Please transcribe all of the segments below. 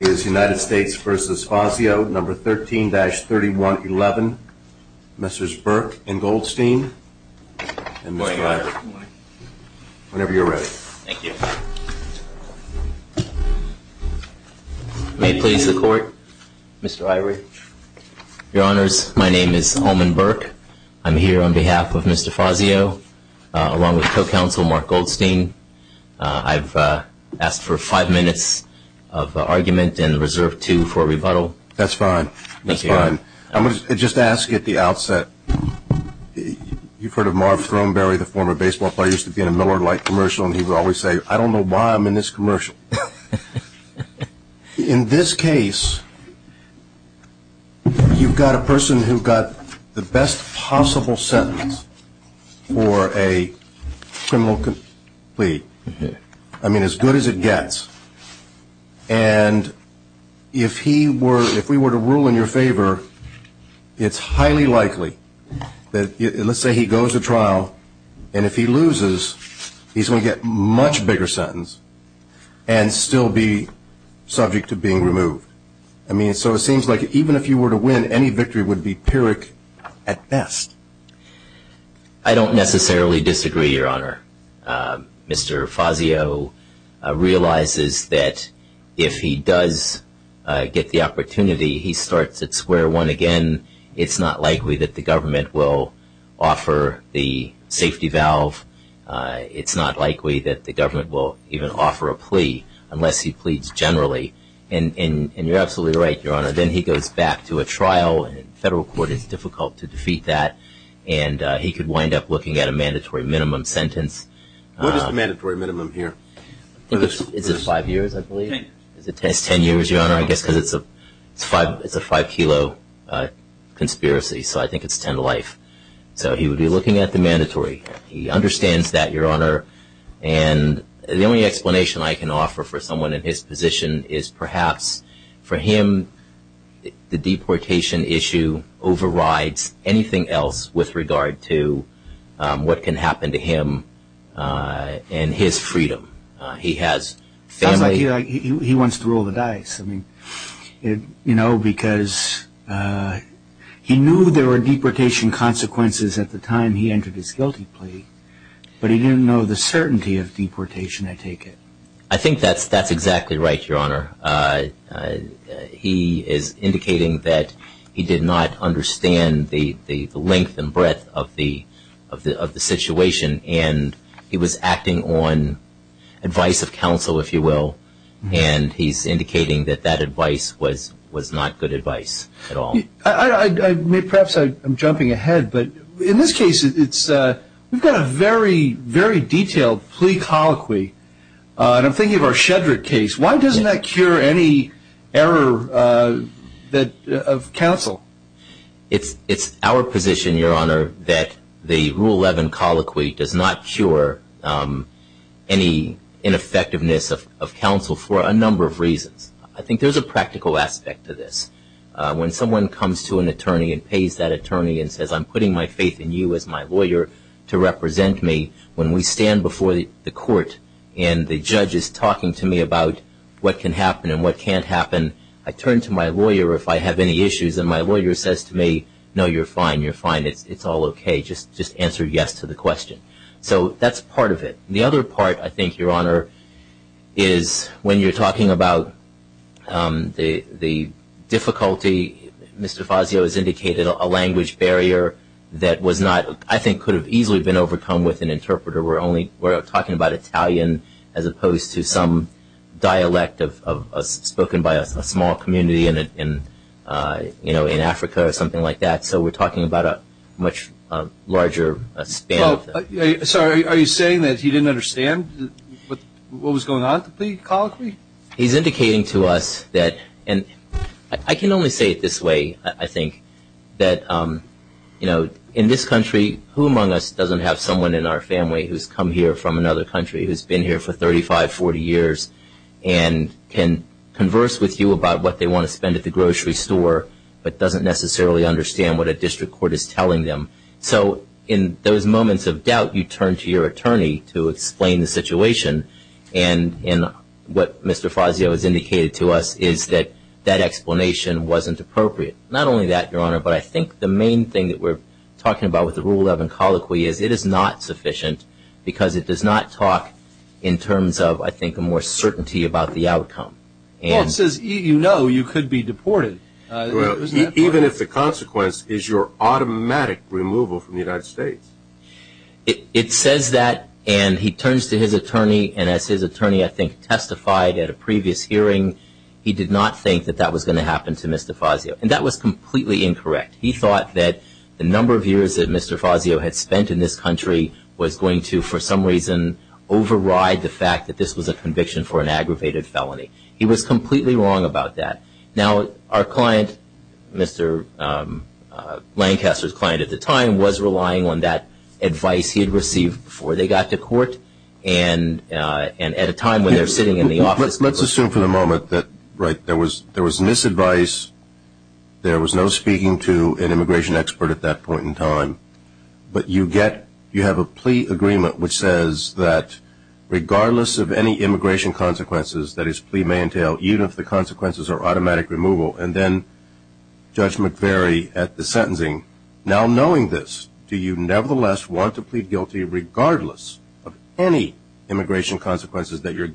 is United States v. Fazio No. 13-3111 Mrs. Burke and Goldstein and Mr. Irie. Whenever you're ready. May it please the court, Mr. Irie. Your honors, my name is Holman Burke. I'm here on behalf of the U.S. Department of Justice. I'm here to ask you to please give me a statement and a reserve two for a rebuttal. That's fine. That's fine. I'm going to just ask you at the outset, you've heard of Marv Throneberry, the former baseball player, used to be in a Miller Lite commercial and he would always say, I don't know why I'm in this commercial. In this case, you've got a person who got the best possible sentence for a criminal plea. I mean, as good as it gets. And if he were, if we were to rule in your favor, it's highly likely that, let's say he goes to trial, and if he loses, he's going to get a much bigger sentence. And still be subject to being removed. I mean, so it seems like even if you were to win, any victory would be pyrrhic at best. I don't necessarily disagree, your honor. Mr. Fazio realizes that if he does get the opportunity, he starts at square one again, it's not likely that the government will offer the safety valve. It's not likely that the government will even offer a plea, unless he pleads generally. And you're absolutely right, your honor. Then he goes back to a trial, and federal court is difficult to defeat that, and he could wind up looking at a mandatory minimum sentence. What is the mandatory minimum here? I think it's five years, I believe. Ten. It's ten years, your honor. I guess because it's a five kilo conspiracy, so I think it's ten life. So he would be looking at the mandatory. He understands that, your honor, and the only explanation I can offer for someone in his position is perhaps for him, the deportation issue overrides anything else with regard to what can happen to him and his freedom. He has family. He wants to roll the dice, because he knew there were deportation consequences at the time he entered his guilty plea, but he didn't know the certainty of deportation, I take it. I think that's exactly right, your honor. He is indicating that he did not understand the length and breadth of the situation, and he was acting on advice of counsel, if you will, and he's indicating that that advice was not good advice at all. Perhaps I'm jumping ahead, but in this case, we've got a very, very detailed plea colloquy, and I'm thinking of our Shedrick case. Why doesn't that cure any error of counsel? It's our position, your honor, that the Rule 11 colloquy does not cure any ineffectiveness of counsel for a number of reasons. I think there's a practical aspect to this. When someone comes to an attorney and pays that attorney and says, I'm putting my faith in you as my lawyer to represent me, when we stand before the court and the judge is talking to me about what can happen and what can't happen, I turn to my lawyer if I have any issues, and my lawyer says to me, no, you're fine. You're fine. It's all OK. Just answer yes to the question. So that's part of it. The other part, I think, your honor, is when you're talking about the difficulty, Mr. Fazio has indicated a language barrier that was not, I think could have easily been overcome with an interpreter. We're talking about Italian as opposed to some dialect spoken by a small community in Africa or something like that. So we're talking about a much larger span. Sorry, are you saying that he didn't understand what was going on at the plea colloquy? He's indicating to us that, and I can only say it this way, I think, that in this country, who among us doesn't have someone in our family who's come here from another country who's been here for 35, 40 years and can converse with you about what they want to spend at the grocery store but doesn't necessarily understand what a district court is telling them? So in those moments of doubt, you turn to your attorney to explain the situation, and what Mr. Fazio has indicated to us is that that explanation wasn't appropriate. Not only that, your honor, but I think the main thing that we're talking about with the Rule 11 colloquy is it is not sufficient because it does not talk in terms of, I think, a more certainty about the outcome. Well, it says you know you could be deported. Even if the consequence is your automatic removal from the United States. It says that, and he turns to his attorney, and as his attorney, I think, testified at a previous hearing, he did not think that that was going to happen to Mr. Fazio, and that was completely incorrect. He thought that the number of years that Mr. Fazio had spent in this country was going to, for some reason, override the fact that this was a conviction for an aggravated felony. He was completely wrong about that. Now, our client, Mr. Lancaster's client at the time, was relying on that advice he had received before they got to court, and at a time when they're sitting in the office. Let's assume for the moment that, right, there was misadvice. There was no speaking to an immigration expert at that point in time. But you get, you have a plea agreement which says that regardless of any immigration consequences that his plea may entail, even if the consequences are automatic removal, and then Judge McVeary at the sentencing, now knowing this, do you nevertheless want to plead guilty regardless of any immigration consequences that your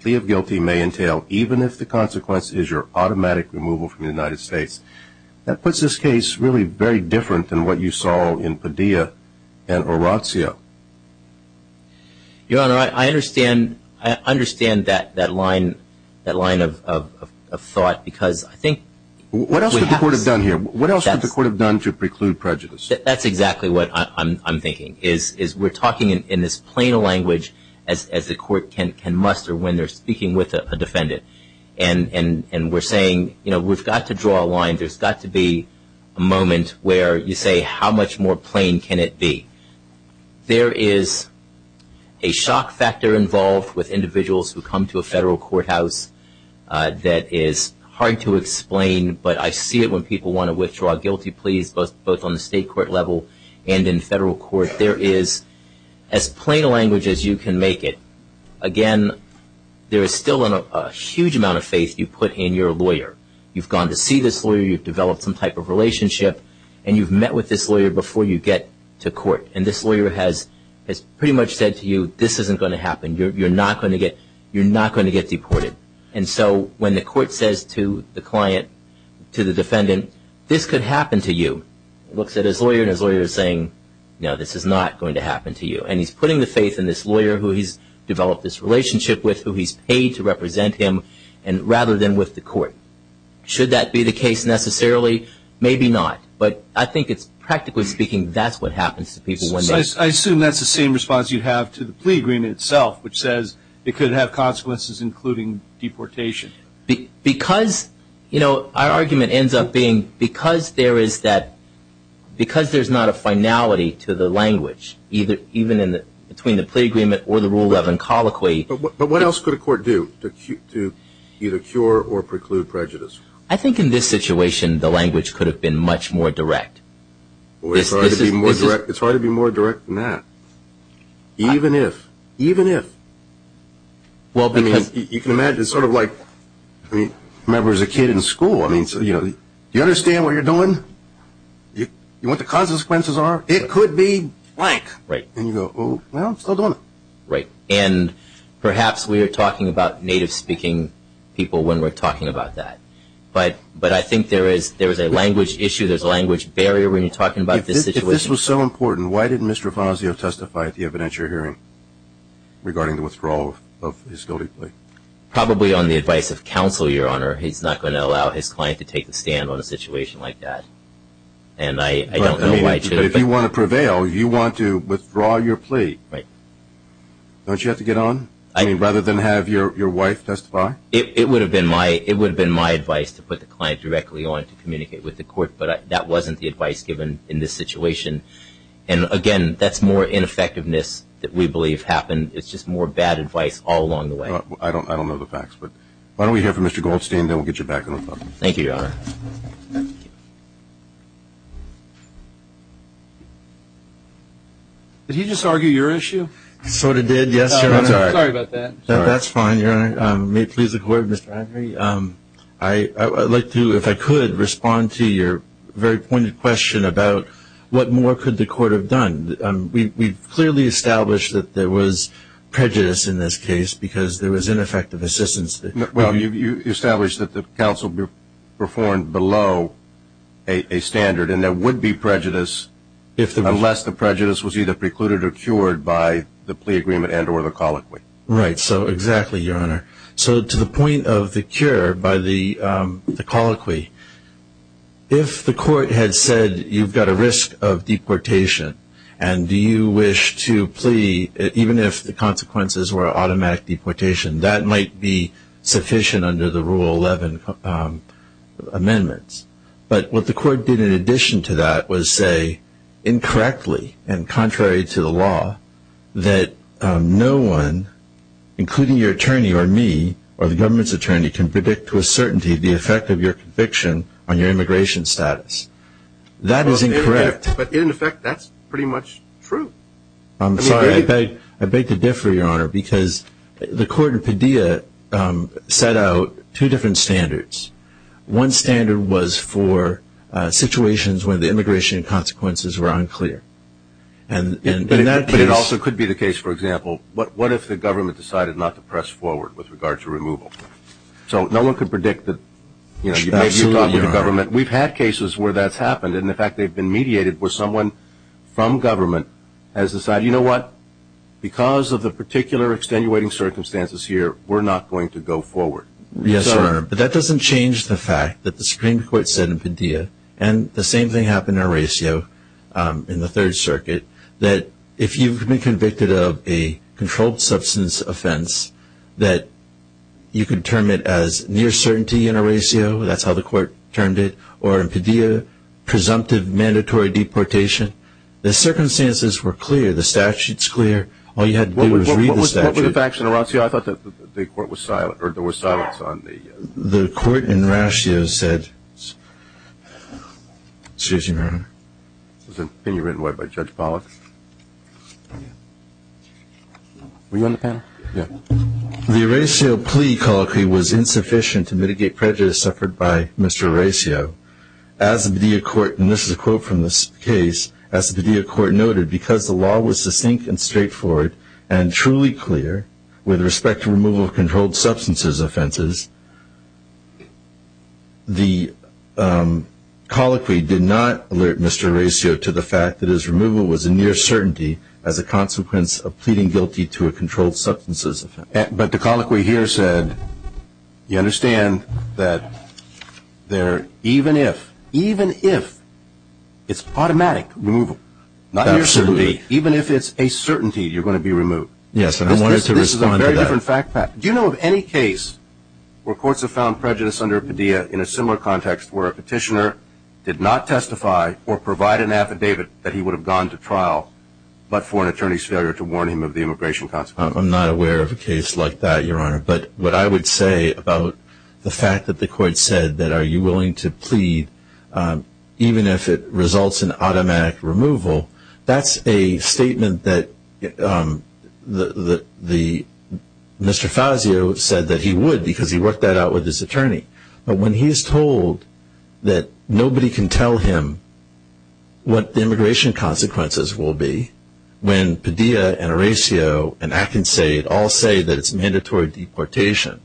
plea of guilty may entail, even if the consequence is your automatic removal from the United States? That puts this case really very different than what you saw in Padilla and Orazio. Your Honor, I understand that line of thought because I think... What else could the court have done here? What else could the court have done to preclude prejudice? That's exactly what I'm thinking, is we're talking in this plain language as the court can muster when they're speaking with a defendant. And we're saying, you know, we've got to draw a line. There's got to be a moment where you say, how much more plain can it be? There is a shock factor involved with individuals who come to a federal courthouse that is hard to explain. But I see it when people want to withdraw guilty pleas, both on the state court level and in federal court. There is, as plain a language as you can make it. Again, there is still a huge amount of faith you put in your lawyer. You've gone to see this lawyer. You've developed some type of relationship. And you've met with this lawyer before you get to court. And this lawyer has pretty much said to you, this isn't going to happen. You're not going to get deported. And so when the court says to the client, to the defendant, this could happen to you, looks at his lawyer, and his lawyer is saying, no, this is not going to happen to you. And he's putting the faith in this lawyer who he's developed this relationship with, who he's paid to represent him, rather than with the court. Should that be the case necessarily? Maybe not. But I think it's, practically speaking, that's what happens to people. So I assume that's the same response you have to the plea agreement itself, which says it could have consequences, including deportation. Because our argument ends up being, because there's not a finality to the language, even between the plea agreement or the rule of incolloquy. But what else could a court do to either cure or preclude prejudice? I think in this situation, the language could have been much more direct. It's hard to be more direct than that. Even if. Even if. You can imagine, sort of like, remember as a kid in school, do you understand what you're doing? Do you know what the consequences are? It could be blank. And you go, well, I'm still doing it. Right. And perhaps we are talking about native-speaking people when we're talking about that. But I think there is a language issue, there's a language barrier when you're talking about this situation. This was so important. Why didn't Mr. Fazio testify at the evidentiary hearing regarding the withdrawal of his guilty plea? Probably on the advice of counsel, Your Honor. He's not going to allow his client to take the stand on a situation like that. And I don't know why he should. But if you want to prevail, you want to withdraw your plea. Right. Don't you have to get on? I mean, rather than have your wife testify? It would have been my advice to put the client directly on to communicate with the court. But that wasn't the advice given in this situation. And, again, that's more ineffectiveness that we believe happened. It's just more bad advice all along the way. I don't know the facts. But why don't we hear from Mr. Goldstein, then we'll get you back on the phone. Thank you, Your Honor. Did he just argue your issue? Sort of did, yes, Your Honor. Sorry about that. That's fine, Your Honor. May it please the Court, Mr. Henry. I'd like to, if I could, respond to your very pointed question about what more could the court have done. We've clearly established that there was prejudice in this case because there was ineffective assistance. Well, you established that the counsel performed below a standard, and there would be prejudice unless the prejudice was either precluded or cured by the plea agreement and or the colloquy. Right, so exactly, Your Honor. So to the point of the cure by the colloquy, if the court had said you've got a risk of deportation and do you wish to plea, even if the consequences were automatic deportation, that might be sufficient under the Rule 11 amendments. But what the court did in addition to that was say, incorrectly and contrary to the law, that no one, including your attorney or me or the government's attorney, can predict to a certainty the effect of your conviction on your immigration status. That is incorrect. But in effect, that's pretty much true. I'm sorry, I beg to differ, Your Honor, because the court in Padilla set out two different standards. One standard was for situations when the immigration consequences were unclear. But it also could be the case, for example, what if the government decided not to press forward with regard to removal? So no one could predict that, you know, you've talked with the government. We've had cases where that's happened, and in fact they've been mediated where someone from government has decided, you know what, because of the particular extenuating circumstances here, we're not going to go forward. Yes, Your Honor, but that doesn't change the fact that the Supreme Court said in Padilla, and the same thing happened in Horacio in the Third Circuit, that if you've been convicted of a controlled substance offense, that you could term it as near certainty in Horacio, that's how the court termed it, or in Padilla, presumptive mandatory deportation. The circumstances were clear. The statute's clear. All you had to do was read the statute. What were the facts in Horacio? See, I thought that the court was silent, or there was silence on the ---- The court in Horacio said, excuse me, Your Honor. It was an opinion written by Judge Pollack. Were you on the panel? Yeah. The Horacio plea colloquy was insufficient to mitigate prejudice suffered by Mr. Horacio. As the Padilla court, and this is a quote from this case, as the Padilla court noted, because the law was succinct and straightforward and truly clear with respect to removal of controlled substances offenses, the colloquy did not alert Mr. Horacio to the fact that his removal was a near certainty as a consequence of pleading guilty to a controlled substances offense. But the colloquy here said, you understand that even if it's automatic removal, not near certainty, even if it's a certainty, you're going to be removed. Yes, and I wanted to respond to that. This is a very different fact pack. Do you know of any case where courts have found prejudice under Padilla in a similar context where a petitioner did not testify or provide an affidavit that he would have gone to trial but for an attorney's failure to warn him of the immigration consequences? I'm not aware of a case like that, Your Honor. But what I would say about the fact that the court said that are you willing to plead even if it results in automatic removal, that's a statement that Mr. Fazio said that he would because he worked that out with his attorney. But when he is told that nobody can tell him what the immigration consequences will be, when Padilla and Horacio and Akinseid all say that it's mandatory deportation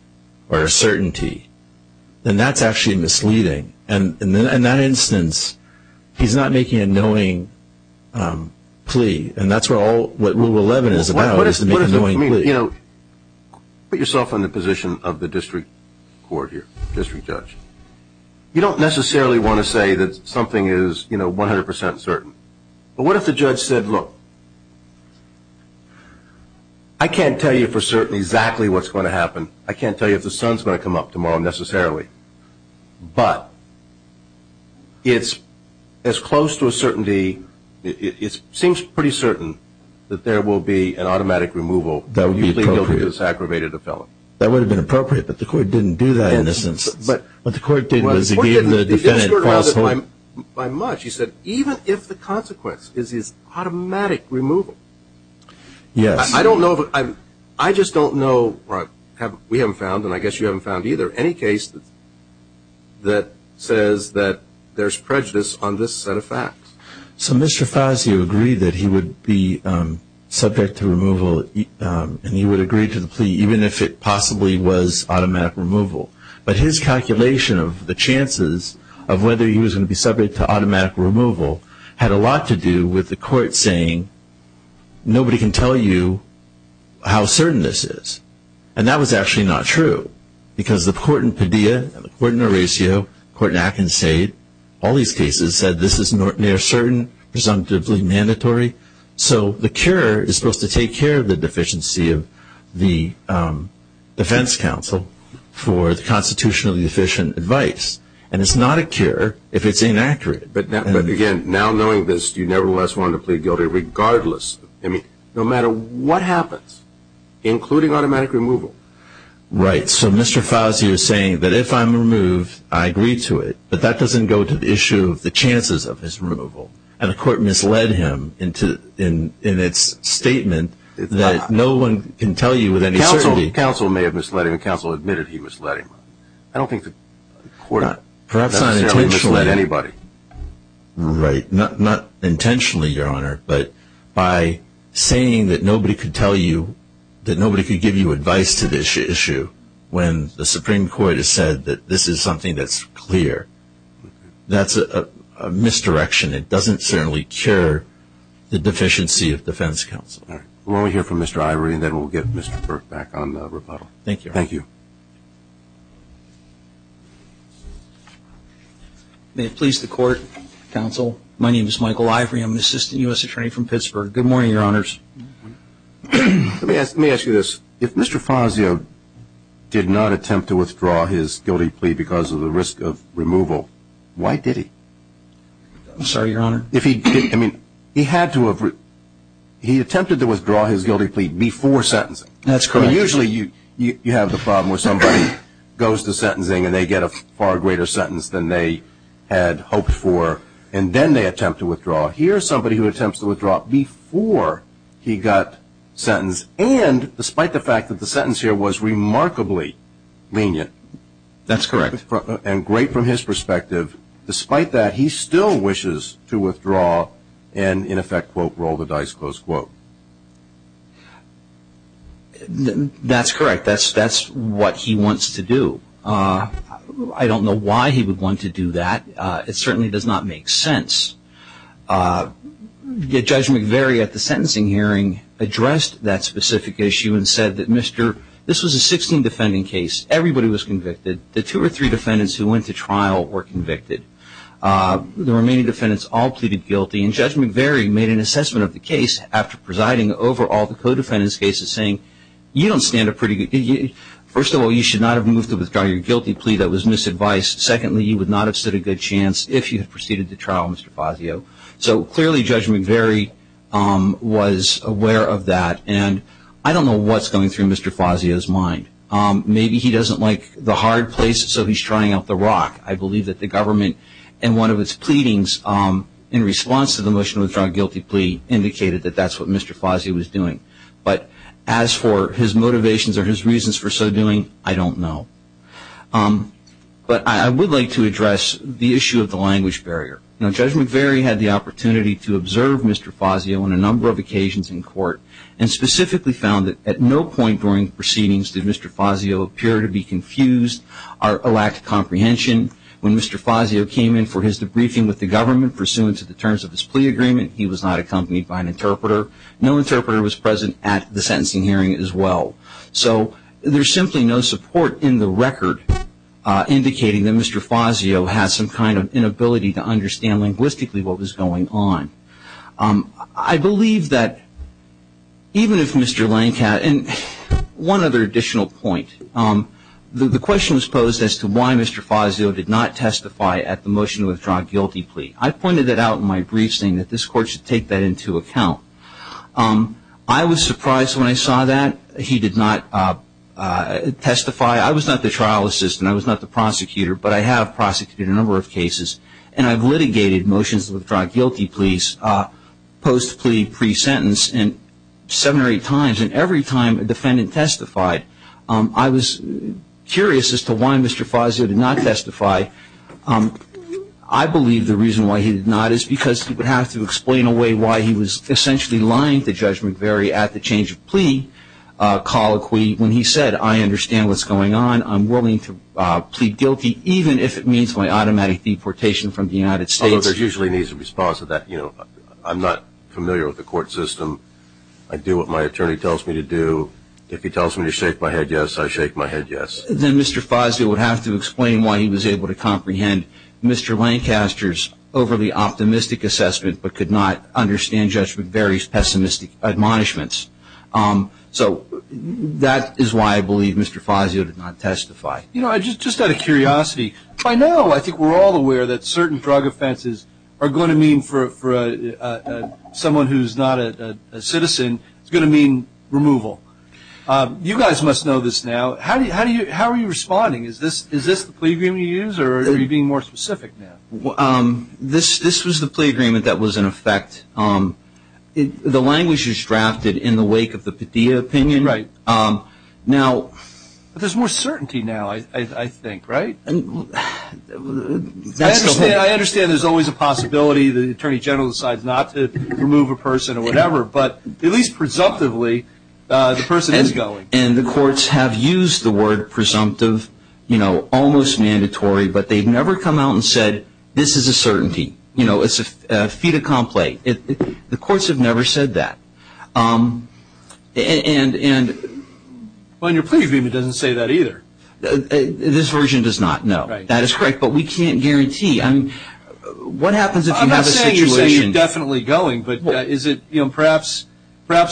or a certainty, then that's actually misleading. And in that instance, he's not making a knowing plea. And that's what Rule 11 is about is to make a knowing plea. You know, put yourself in the position of the district court here, district judge. You don't necessarily want to say that something is, you know, 100 percent certain. But what if the judge said, look, I can't tell you for certain exactly what's going to happen. I can't tell you if the sun's going to come up tomorrow necessarily. But it's as close to a certainty. It seems pretty certain that there will be an automatic removal. That would be appropriate. If you plead guilty to this aggravated offender. That would have been appropriate, but the court didn't do that in this instance. But the court didn't. The court didn't. He didn't skirt around it by much. He said even if the consequence is automatic removal. Yes. I don't know. I just don't know. We haven't found, and I guess you haven't found either, any case that says that there's prejudice on this set of facts. So Mr. Fazio agreed that he would be subject to removal, and he would agree to the plea, even if it possibly was automatic removal. But his calculation of the chances of whether he was going to be subject to automatic removal had a lot to do with the court saying nobody can tell you how certain this is. And that was actually not true. Because the court in Padilla, the court in Horatio, the court in Atkins said, all these cases said this is near certain, presumptively mandatory. So the cure is supposed to take care of the deficiency of the defense counsel for the constitutionally deficient advice. And it's not a cure if it's inaccurate. But, again, now knowing this, you nevertheless want to plead guilty regardless, I mean, no matter what happens, including automatic removal. Right. So Mr. Fazio is saying that if I'm removed, I agree to it. But that doesn't go to the issue of the chances of his removal. And the court misled him in its statement that no one can tell you with any certainty. Counsel may have misled him. Counsel admitted he misled him. I don't think the court necessarily misled anybody. Right. Not intentionally, Your Honor. But by saying that nobody could tell you, that nobody could give you advice to this issue, when the Supreme Court has said that this is something that's clear, that's a misdirection. It doesn't certainly cure the deficiency of defense counsel. All right. We'll only hear from Mr. Ivory, and then we'll get Mr. Burke back on the rebuttal. Thank you. Thank you. May it please the Court, Counsel. My name is Michael Ivory. I'm an assistant U.S. attorney from Pittsburgh. Good morning, Your Honors. Let me ask you this. If Mr. Fazio did not attempt to withdraw his guilty plea because of the risk of removal, why did he? I'm sorry, Your Honor. I mean, he attempted to withdraw his guilty plea before sentencing. That's correct. I mean, usually you have the problem where somebody goes to sentencing and they get a far greater sentence than they had hoped for, and then they attempt to withdraw. Here's somebody who attempts to withdraw before he got sentenced, and despite the fact that the sentence here was remarkably lenient. That's correct. And great from his perspective. Despite that, he still wishes to withdraw and, in effect, quote, roll the dice, close quote. That's correct. That's what he wants to do. I don't know why he would want to do that. It certainly does not make sense. Judge McVeary at the sentencing hearing addressed that specific issue and said that, Mr., this was a 16 defending case. Everybody was convicted. The two or three defendants who went to trial were convicted. The remaining defendants all pleaded guilty, and Judge McVeary made an assessment of the case after presiding over all the co-defendants' cases, saying, you don't stand a pretty good, first of all, you should not have moved to withdraw your guilty plea that was misadvised. Secondly, you would not have stood a good chance if you had proceeded to trial, Mr. Fazio. So clearly Judge McVeary was aware of that, and I don't know what's going through Mr. Fazio's mind. Maybe he doesn't like the hard place, so he's trying out the rock. I believe that the government, in one of its pleadings, in response to the motion to withdraw a guilty plea, indicated that that's what Mr. Fazio was doing. But as for his motivations or his reasons for so doing, I don't know. But I would like to address the issue of the language barrier. Judge McVeary had the opportunity to observe Mr. Fazio on a number of occasions in court and specifically found that at no point during proceedings did Mr. Fazio appear to be confused or lack comprehension. When Mr. Fazio came in for his debriefing with the government, pursuant to the terms of his plea agreement, he was not accompanied by an interpreter. No interpreter was present at the sentencing hearing as well. So there's simply no support in the record indicating that Mr. Fazio has some kind of inability to understand linguistically what was going on. I believe that even if Mr. Lancat and one other additional point, the question was posed as to why Mr. Fazio did not testify at the motion to withdraw a guilty plea. I pointed it out in my briefing that this court should take that into account. I was surprised when I saw that he did not testify. I was not the trial assistant. I was not the prosecutor, but I have prosecuted a number of cases and I've litigated motions to withdraw a guilty plea post-plea pre-sentence and seven or eight times and every time a defendant testified. I was curious as to why Mr. Fazio did not testify. I believe the reason why he did not is because he would have to explain away why he was essentially lying to Judge McVeary at the change of plea colloquy when he said, I understand what's going on. I'm willing to plead guilty even if it means my automatic deportation from the United States. Although there's usually an easy response to that. I'm not familiar with the court system. I do what my attorney tells me to do. If he tells me to shake my head yes, I shake my head yes. Then Mr. Fazio would have to explain why he was able to comprehend Mr. Lancaster's overly optimistic assessment but could not understand Judge McVeary's pessimistic admonishments. So that is why I believe Mr. Fazio did not testify. You know, just out of curiosity, by now I think we're all aware that certain drug offenses are going to mean for someone who's not a citizen, it's going to mean removal. You guys must know this now. How are you responding? Is this the plea agreement you use or are you being more specific now? This was the plea agreement that was in effect. The language is drafted in the wake of the Padilla opinion. Right. Now there's more certainty now, I think, right? I understand there's always a possibility the Attorney General decides not to remove a person or whatever, but at least presumptively the person is going. And the courts have used the word presumptive, you know, almost mandatory, but they've never come out and said this is a certainty. You know, it's a fait accompli. The courts have never said that. And when you're pleading, it doesn't say that either. This version does not, no. That is correct, but we can't guarantee. What happens if you have a situation? I'm not saying you're saying you're definitely going, but is it perhaps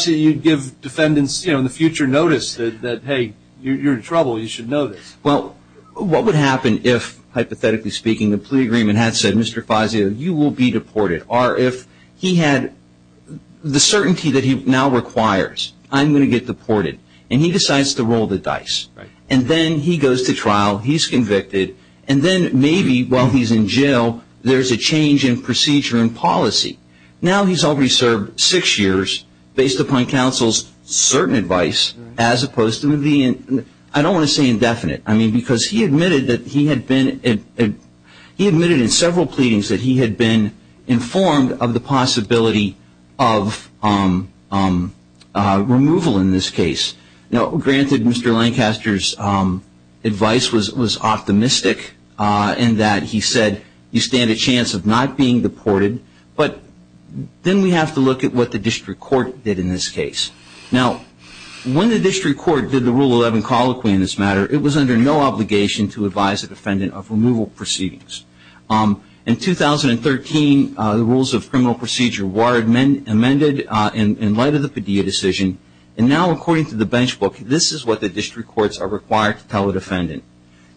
you'd give defendants, you know, in the future notice that, hey, you're in trouble, you should know this. Well, what would happen if, hypothetically speaking, the plea agreement had said, Mr. Fazio, you will be deported, or if he had the certainty that he now requires, I'm going to get deported, and he decides to roll the dice. And then he goes to trial, he's convicted, and then maybe while he's in jail, there's a change in procedure and policy. Now he's already served six years based upon counsel's certain advice, as opposed to being, I don't want to say indefinite. I mean, because he admitted that he had been, he admitted in several pleadings that he had been informed of the possibility of removal in this case. Now, granted, Mr. Lancaster's advice was optimistic in that he said, you stand a chance of not being deported, but then we have to look at what the district court did in this case. Now, when the district court did the Rule 11 colloquy in this matter, it was under no obligation to advise a defendant of removal proceedings. In 2013, the rules of criminal procedure were amended in light of the Padilla decision, and now according to the bench book, this is what the district courts are required to tell a defendant.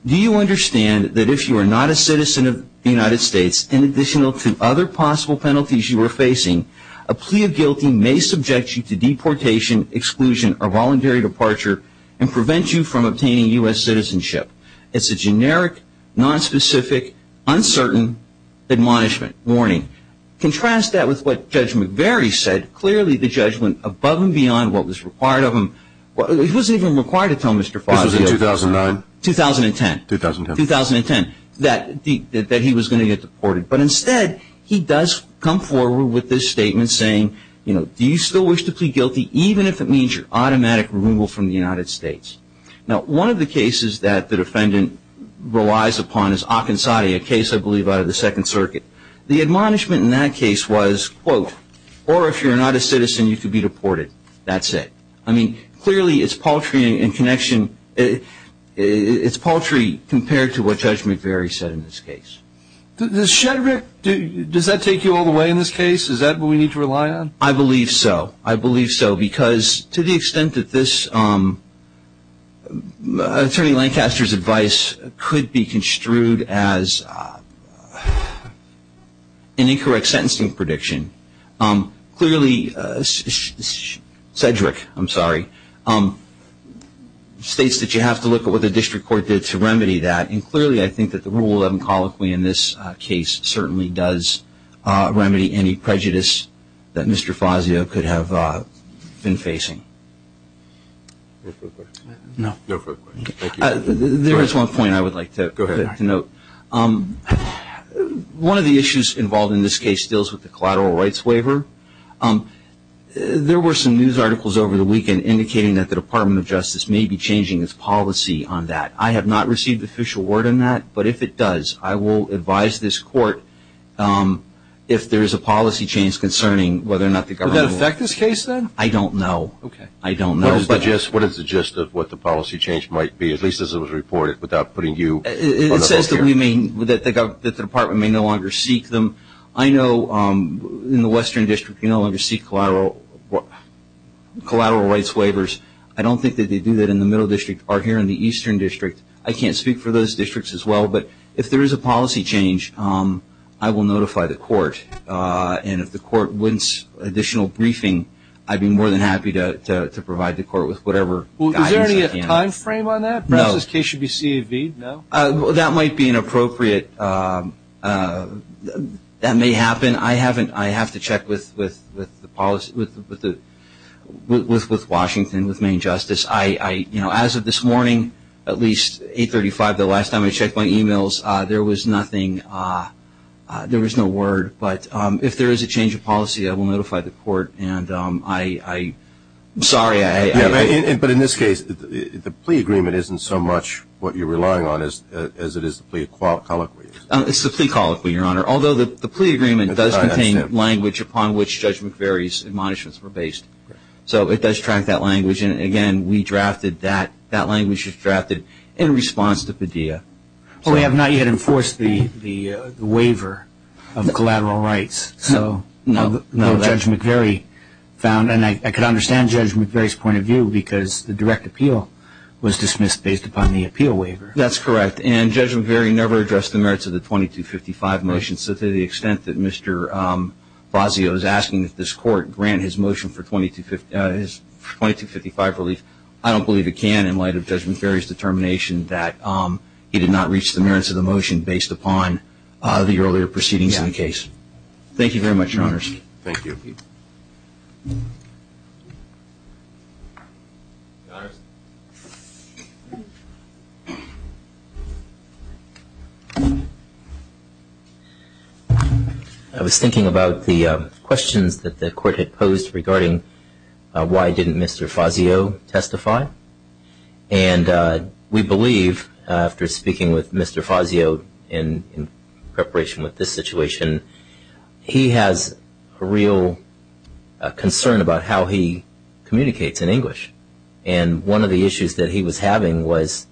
Do you understand that if you are not a citizen of the United States, in addition to other possible penalties you are facing, a plea of guilty may subject you to deportation, exclusion, or voluntary departure, and prevent you from obtaining U.S. citizenship. It's a generic, nonspecific, uncertain admonishment, warning. Contrast that with what Judge McVeary said. Clearly the judgment above and beyond what was required of him, it wasn't even required to tell Mr. Fazio. This was in 2009? 2010. 2010. 2010. That he was going to get deported. But instead, he does come forward with this statement saying, do you still wish to plead guilty even if it means your automatic removal from the United States? Now, one of the cases that the defendant relies upon is Akinzade, a case I believe out of the Second Circuit. The admonishment in that case was, quote, or if you're not a citizen, you could be deported. That's it. I mean, clearly it's paltry in connection. It's paltry compared to what Judge McVeary said in this case. Does Shedrick, does that take you all the way in this case? Is that what we need to rely on? I believe so. I believe so because to the extent that this, Attorney Lancaster's advice could be construed as an incorrect sentencing prediction. Clearly, Shedrick, I'm sorry, states that you have to look at what the district court did to remedy that. And clearly, I think that the Rule 11 colloquy in this case certainly does remedy any prejudice that Mr. Fazio could have been facing. There is one point I would like to note. One of the issues involved in this case deals with the collateral rights waiver. There were some news articles over the weekend indicating that the Department of Justice may be changing its policy on that. I have not received official word on that, but if it does, I will advise this court if there is a policy change concerning whether or not the government will. Would that affect this case then? I don't know. Okay. I don't know. What is the gist of what the policy change might be, at least as it was reported, without putting you on the hook here? It says that the Department may no longer seek them. I know in the Western District you no longer seek collateral rights waivers. I don't think that they do that in the Middle District or here in the Eastern District. I can't speak for those districts as well, but if there is a policy change, I will notify the court. And if the court wants additional briefing, I'd be more than happy to provide the court with whatever guidance I can. Is there any time frame on that? No. Perhaps this case should be CAV'd, no? That might be inappropriate. That may happen. Again, I have to check with Washington, with Maine Justice. As of this morning, at least 835, the last time I checked my e-mails, there was nothing. There was no word. But if there is a change of policy, I will notify the court. I'm sorry. But in this case, the plea agreement isn't so much what you're relying on as it is the plea colloquy. It's the plea colloquy, Your Honor. Although the plea agreement does contain language upon which Judge McVeary's admonishments were based. So it does track that language. And again, we drafted that. That language was drafted in response to Padilla. Well, we have not yet enforced the waiver of collateral rights. No. Judge McVeary found. And I can understand Judge McVeary's point of view because the direct appeal was dismissed based upon the appeal waiver. That's correct. And Judge McVeary never addressed the merits of the 2255 motion. So to the extent that Mr. Blasio is asking that this court grant his motion for 2255 relief, I don't believe it can in light of Judge McVeary's determination that he did not reach the merits of the motion based upon the earlier proceedings in the case. Thank you very much, Your Honors. Thank you. Thank you. Your Honors. I was thinking about the questions that the court had posed regarding why didn't Mr. Fazio testify. And we believe, after speaking with Mr. Fazio in preparation with this situation, he has a real concern about how he communicates in English. And one of the issues that he was having was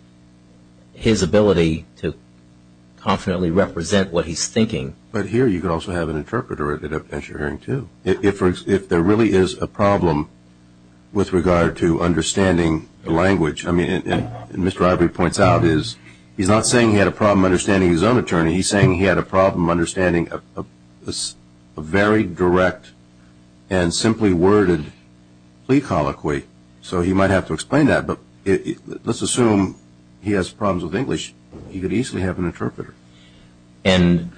his ability to confidently represent what he's thinking. But here you could also have an interpreter as you're hearing too. If there really is a problem with regard to understanding the language, and Mr. Ivery points out is he's not saying he had a problem understanding his own attorney. He's saying he had a problem understanding a very direct and simply worded plea colloquy. So he might have to explain that. But let's assume he has problems with English. He could easily have an interpreter. And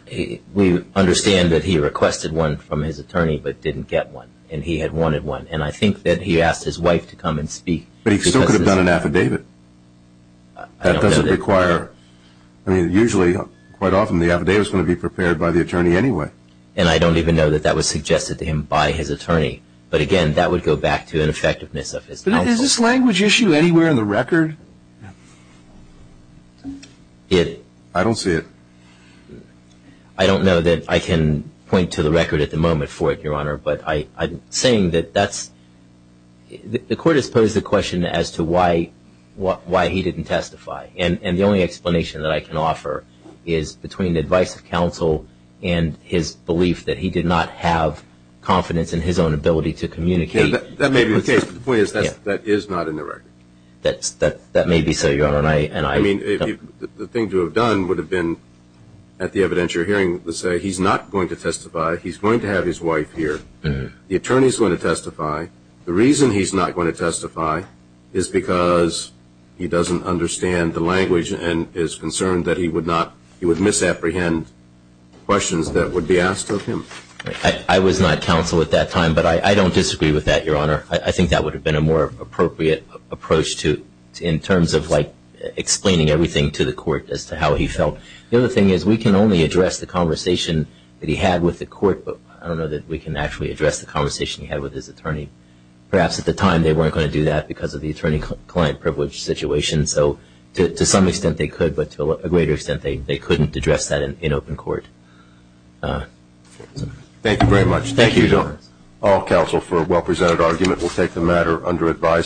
we understand that he requested one from his attorney but didn't get one. And he had wanted one. And I think that he asked his wife to come and speak. But he still could have done an affidavit. That doesn't require. I mean, usually, quite often the affidavit is going to be prepared by the attorney anyway. And I don't even know that that was suggested to him by his attorney. But, again, that would go back to an effectiveness of his counsel. But is this language issue anywhere in the record? I don't see it. I don't know that I can point to the record at the moment for it, Your Honor. But I'm saying that that's the court has posed the question as to why he didn't testify. And the only explanation that I can offer is between the advice of counsel and his belief that he did not have confidence in his own ability to communicate. That may be the case. But the point is that is not in the record. That may be so, Your Honor. I mean, the thing to have done would have been at the evidentiary hearing to say he's not going to testify. He's going to have his wife here. The attorney is going to testify. The reason he's not going to testify is because he doesn't understand the language and is concerned that he would misapprehend questions that would be asked of him. I was not counsel at that time. But I don't disagree with that, Your Honor. I think that would have been a more appropriate approach in terms of explaining everything to the court as to how he felt. The other thing is we can only address the conversation that he had with the court, but I don't know that we can actually address the conversation he had with his attorney. Perhaps at the time they weren't going to do that because of the attorney-client privilege situation. So to some extent they could, but to a greater extent they couldn't address that in open court. Thank you very much. Thank you, Your Honor. All counsel for a well-presented argument will take the matter under advisory.